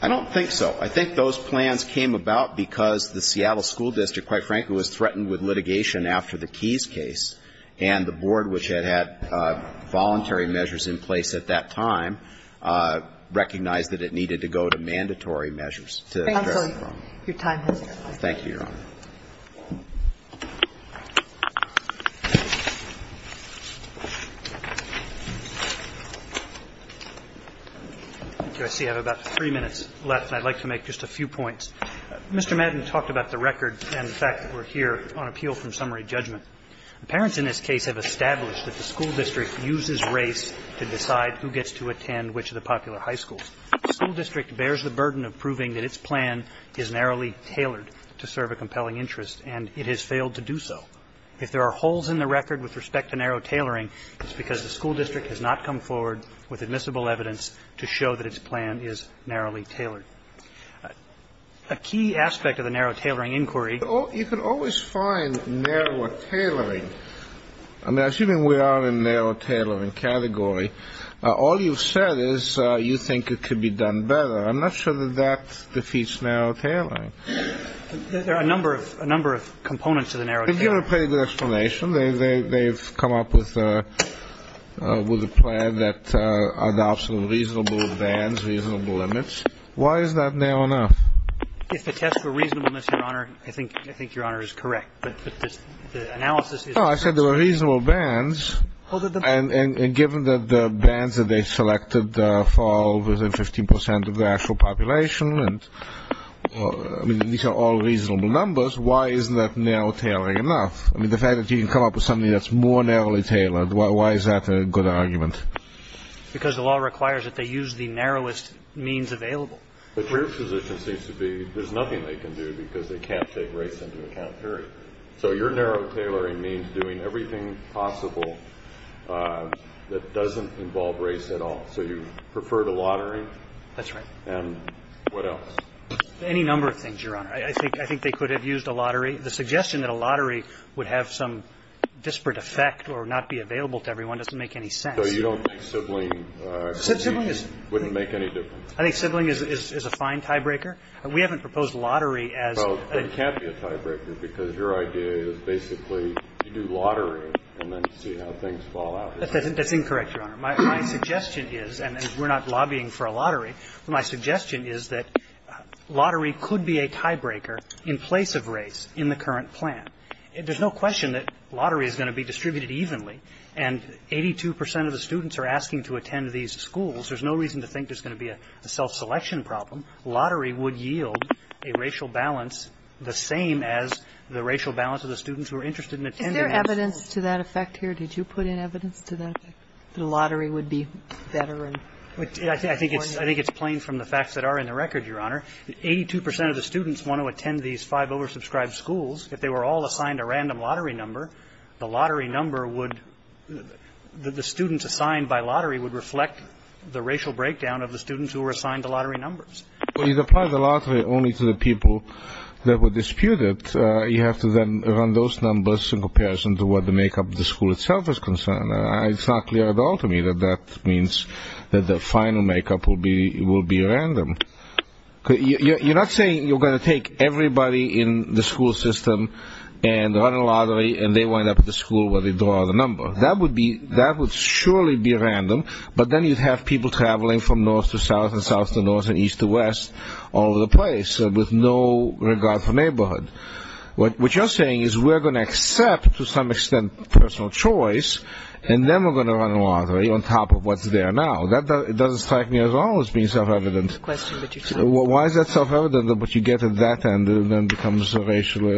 I don't think so. I think those plans came about because the Seattle School District, quite frankly, was threatened with litigation after the Keys case, and the board, which had had voluntary measures in place at that time, recognized that it needed to go to mandatory measures. And so your time has expired. Thank you, Your Honor. I see I have about three minutes left, and I'd like to make just a few points. Mr. Madden talked about the record and the fact that we're here on appeal from summary judgment. The parents in this case have established that the school district uses race to decide who gets to attend which of the popular high schools. The school district bears the burden of proving that its plan is narrowly tailored to serve a compelling interest, and it has failed to do so. If there are holes in the record with respect to narrow tailoring, it's because the school district has not come forward with admissible evidence to show that its plan is narrowly tailored. A key aspect of the narrow tailoring inquiry. You can always find narrower tailoring. I'm assuming we are in narrow tailoring category. All you've said is you think it could be done better. I'm not sure that that defeats narrow tailoring. There are a number of components to the narrow tailoring. They've got a pretty good explanation. They've come up with a plan that adopts a reasonable advance, reasonable limits. Why is that narrow enough? If the test for reasonableness, Your Honor, I think Your Honor is correct. No, I said there were reasonable bands. And given that the bands that they selected fall within 15 percent of the actual population, and these are all reasonable numbers, why isn't that narrow tailoring enough? I mean, the fact that you can come up with something that's more narrowly tailored, why is that a good argument? Because the law requires that they use the narrowest means available. But your position seems to be there's nothing they can do because they can't take race into account, period. So your narrow tailoring means doing everything possible that doesn't involve race at all. So you prefer the lottery? That's right. And what else? Any number of things, Your Honor. I think they could have used a lottery. The suggestion that a lottery would have some disparate effect or not be available to everyone doesn't make any sense. So you don't think sibling would make any difference? I think sibling is a fine tiebreaker. We haven't proposed lottery as a tiebreaker. Well, it can't be a tiebreaker because your idea is basically to do lottery and then see how things fall out. That's incorrect, Your Honor. My suggestion is, and we're not lobbying for a lottery, my suggestion is that lottery could be a tiebreaker in place of race in the current plan. There's no question that lottery is going to be distributed evenly. And 82 percent of the students are asking to attend these schools. There's no reason to think there's going to be a self-selection problem. Lottery would yield a racial balance the same as the racial balance of the students who are interested in attending those schools. Is there evidence to that effect here? Did you put in evidence to that effect, that a lottery would be better and more important? I think it's plain from the facts that are in the record, Your Honor. 82 percent of the students want to attend these five oversubscribed schools. If they were all assigned a random lottery number, the lottery number would be the ratio breakdown of the students who were assigned the lottery numbers. Well, you'd apply the lottery only to the people that were disputed. You have to then run those numbers in comparison to what the makeup of the school itself is concerned. It's not clear at all to me that that means that the final makeup will be random. You're not saying you're going to take everybody in the school system and run a lottery and they wind up at the school where they draw the number. That would surely be random, but then you'd have people traveling from north to south and south to north and east to west all over the place with no regard for neighborhood. What you're saying is we're going to accept to some extent personal choice and then we're going to run a lottery on top of what's there now. That doesn't strike me as always being self-evident. Why is that self-evident? What you get at that end then becomes racially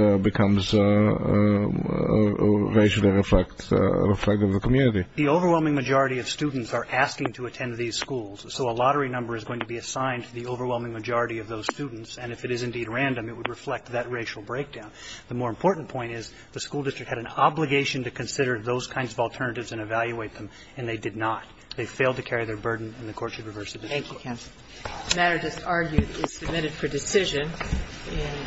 reflect of the community. The overwhelming majority of students are asking to attend these schools, so a lottery number is going to be assigned to the overwhelming majority of those students. And if it is indeed random, it would reflect that racial breakdown. The more important point is the school district had an obligation to consider those kinds of alternatives and evaluate them, and they did not. They failed to carry their burden and the court should reverse the decision. Thank you, counsel. The matter just argued is submitted for decision and the court stands adjourned. All rise.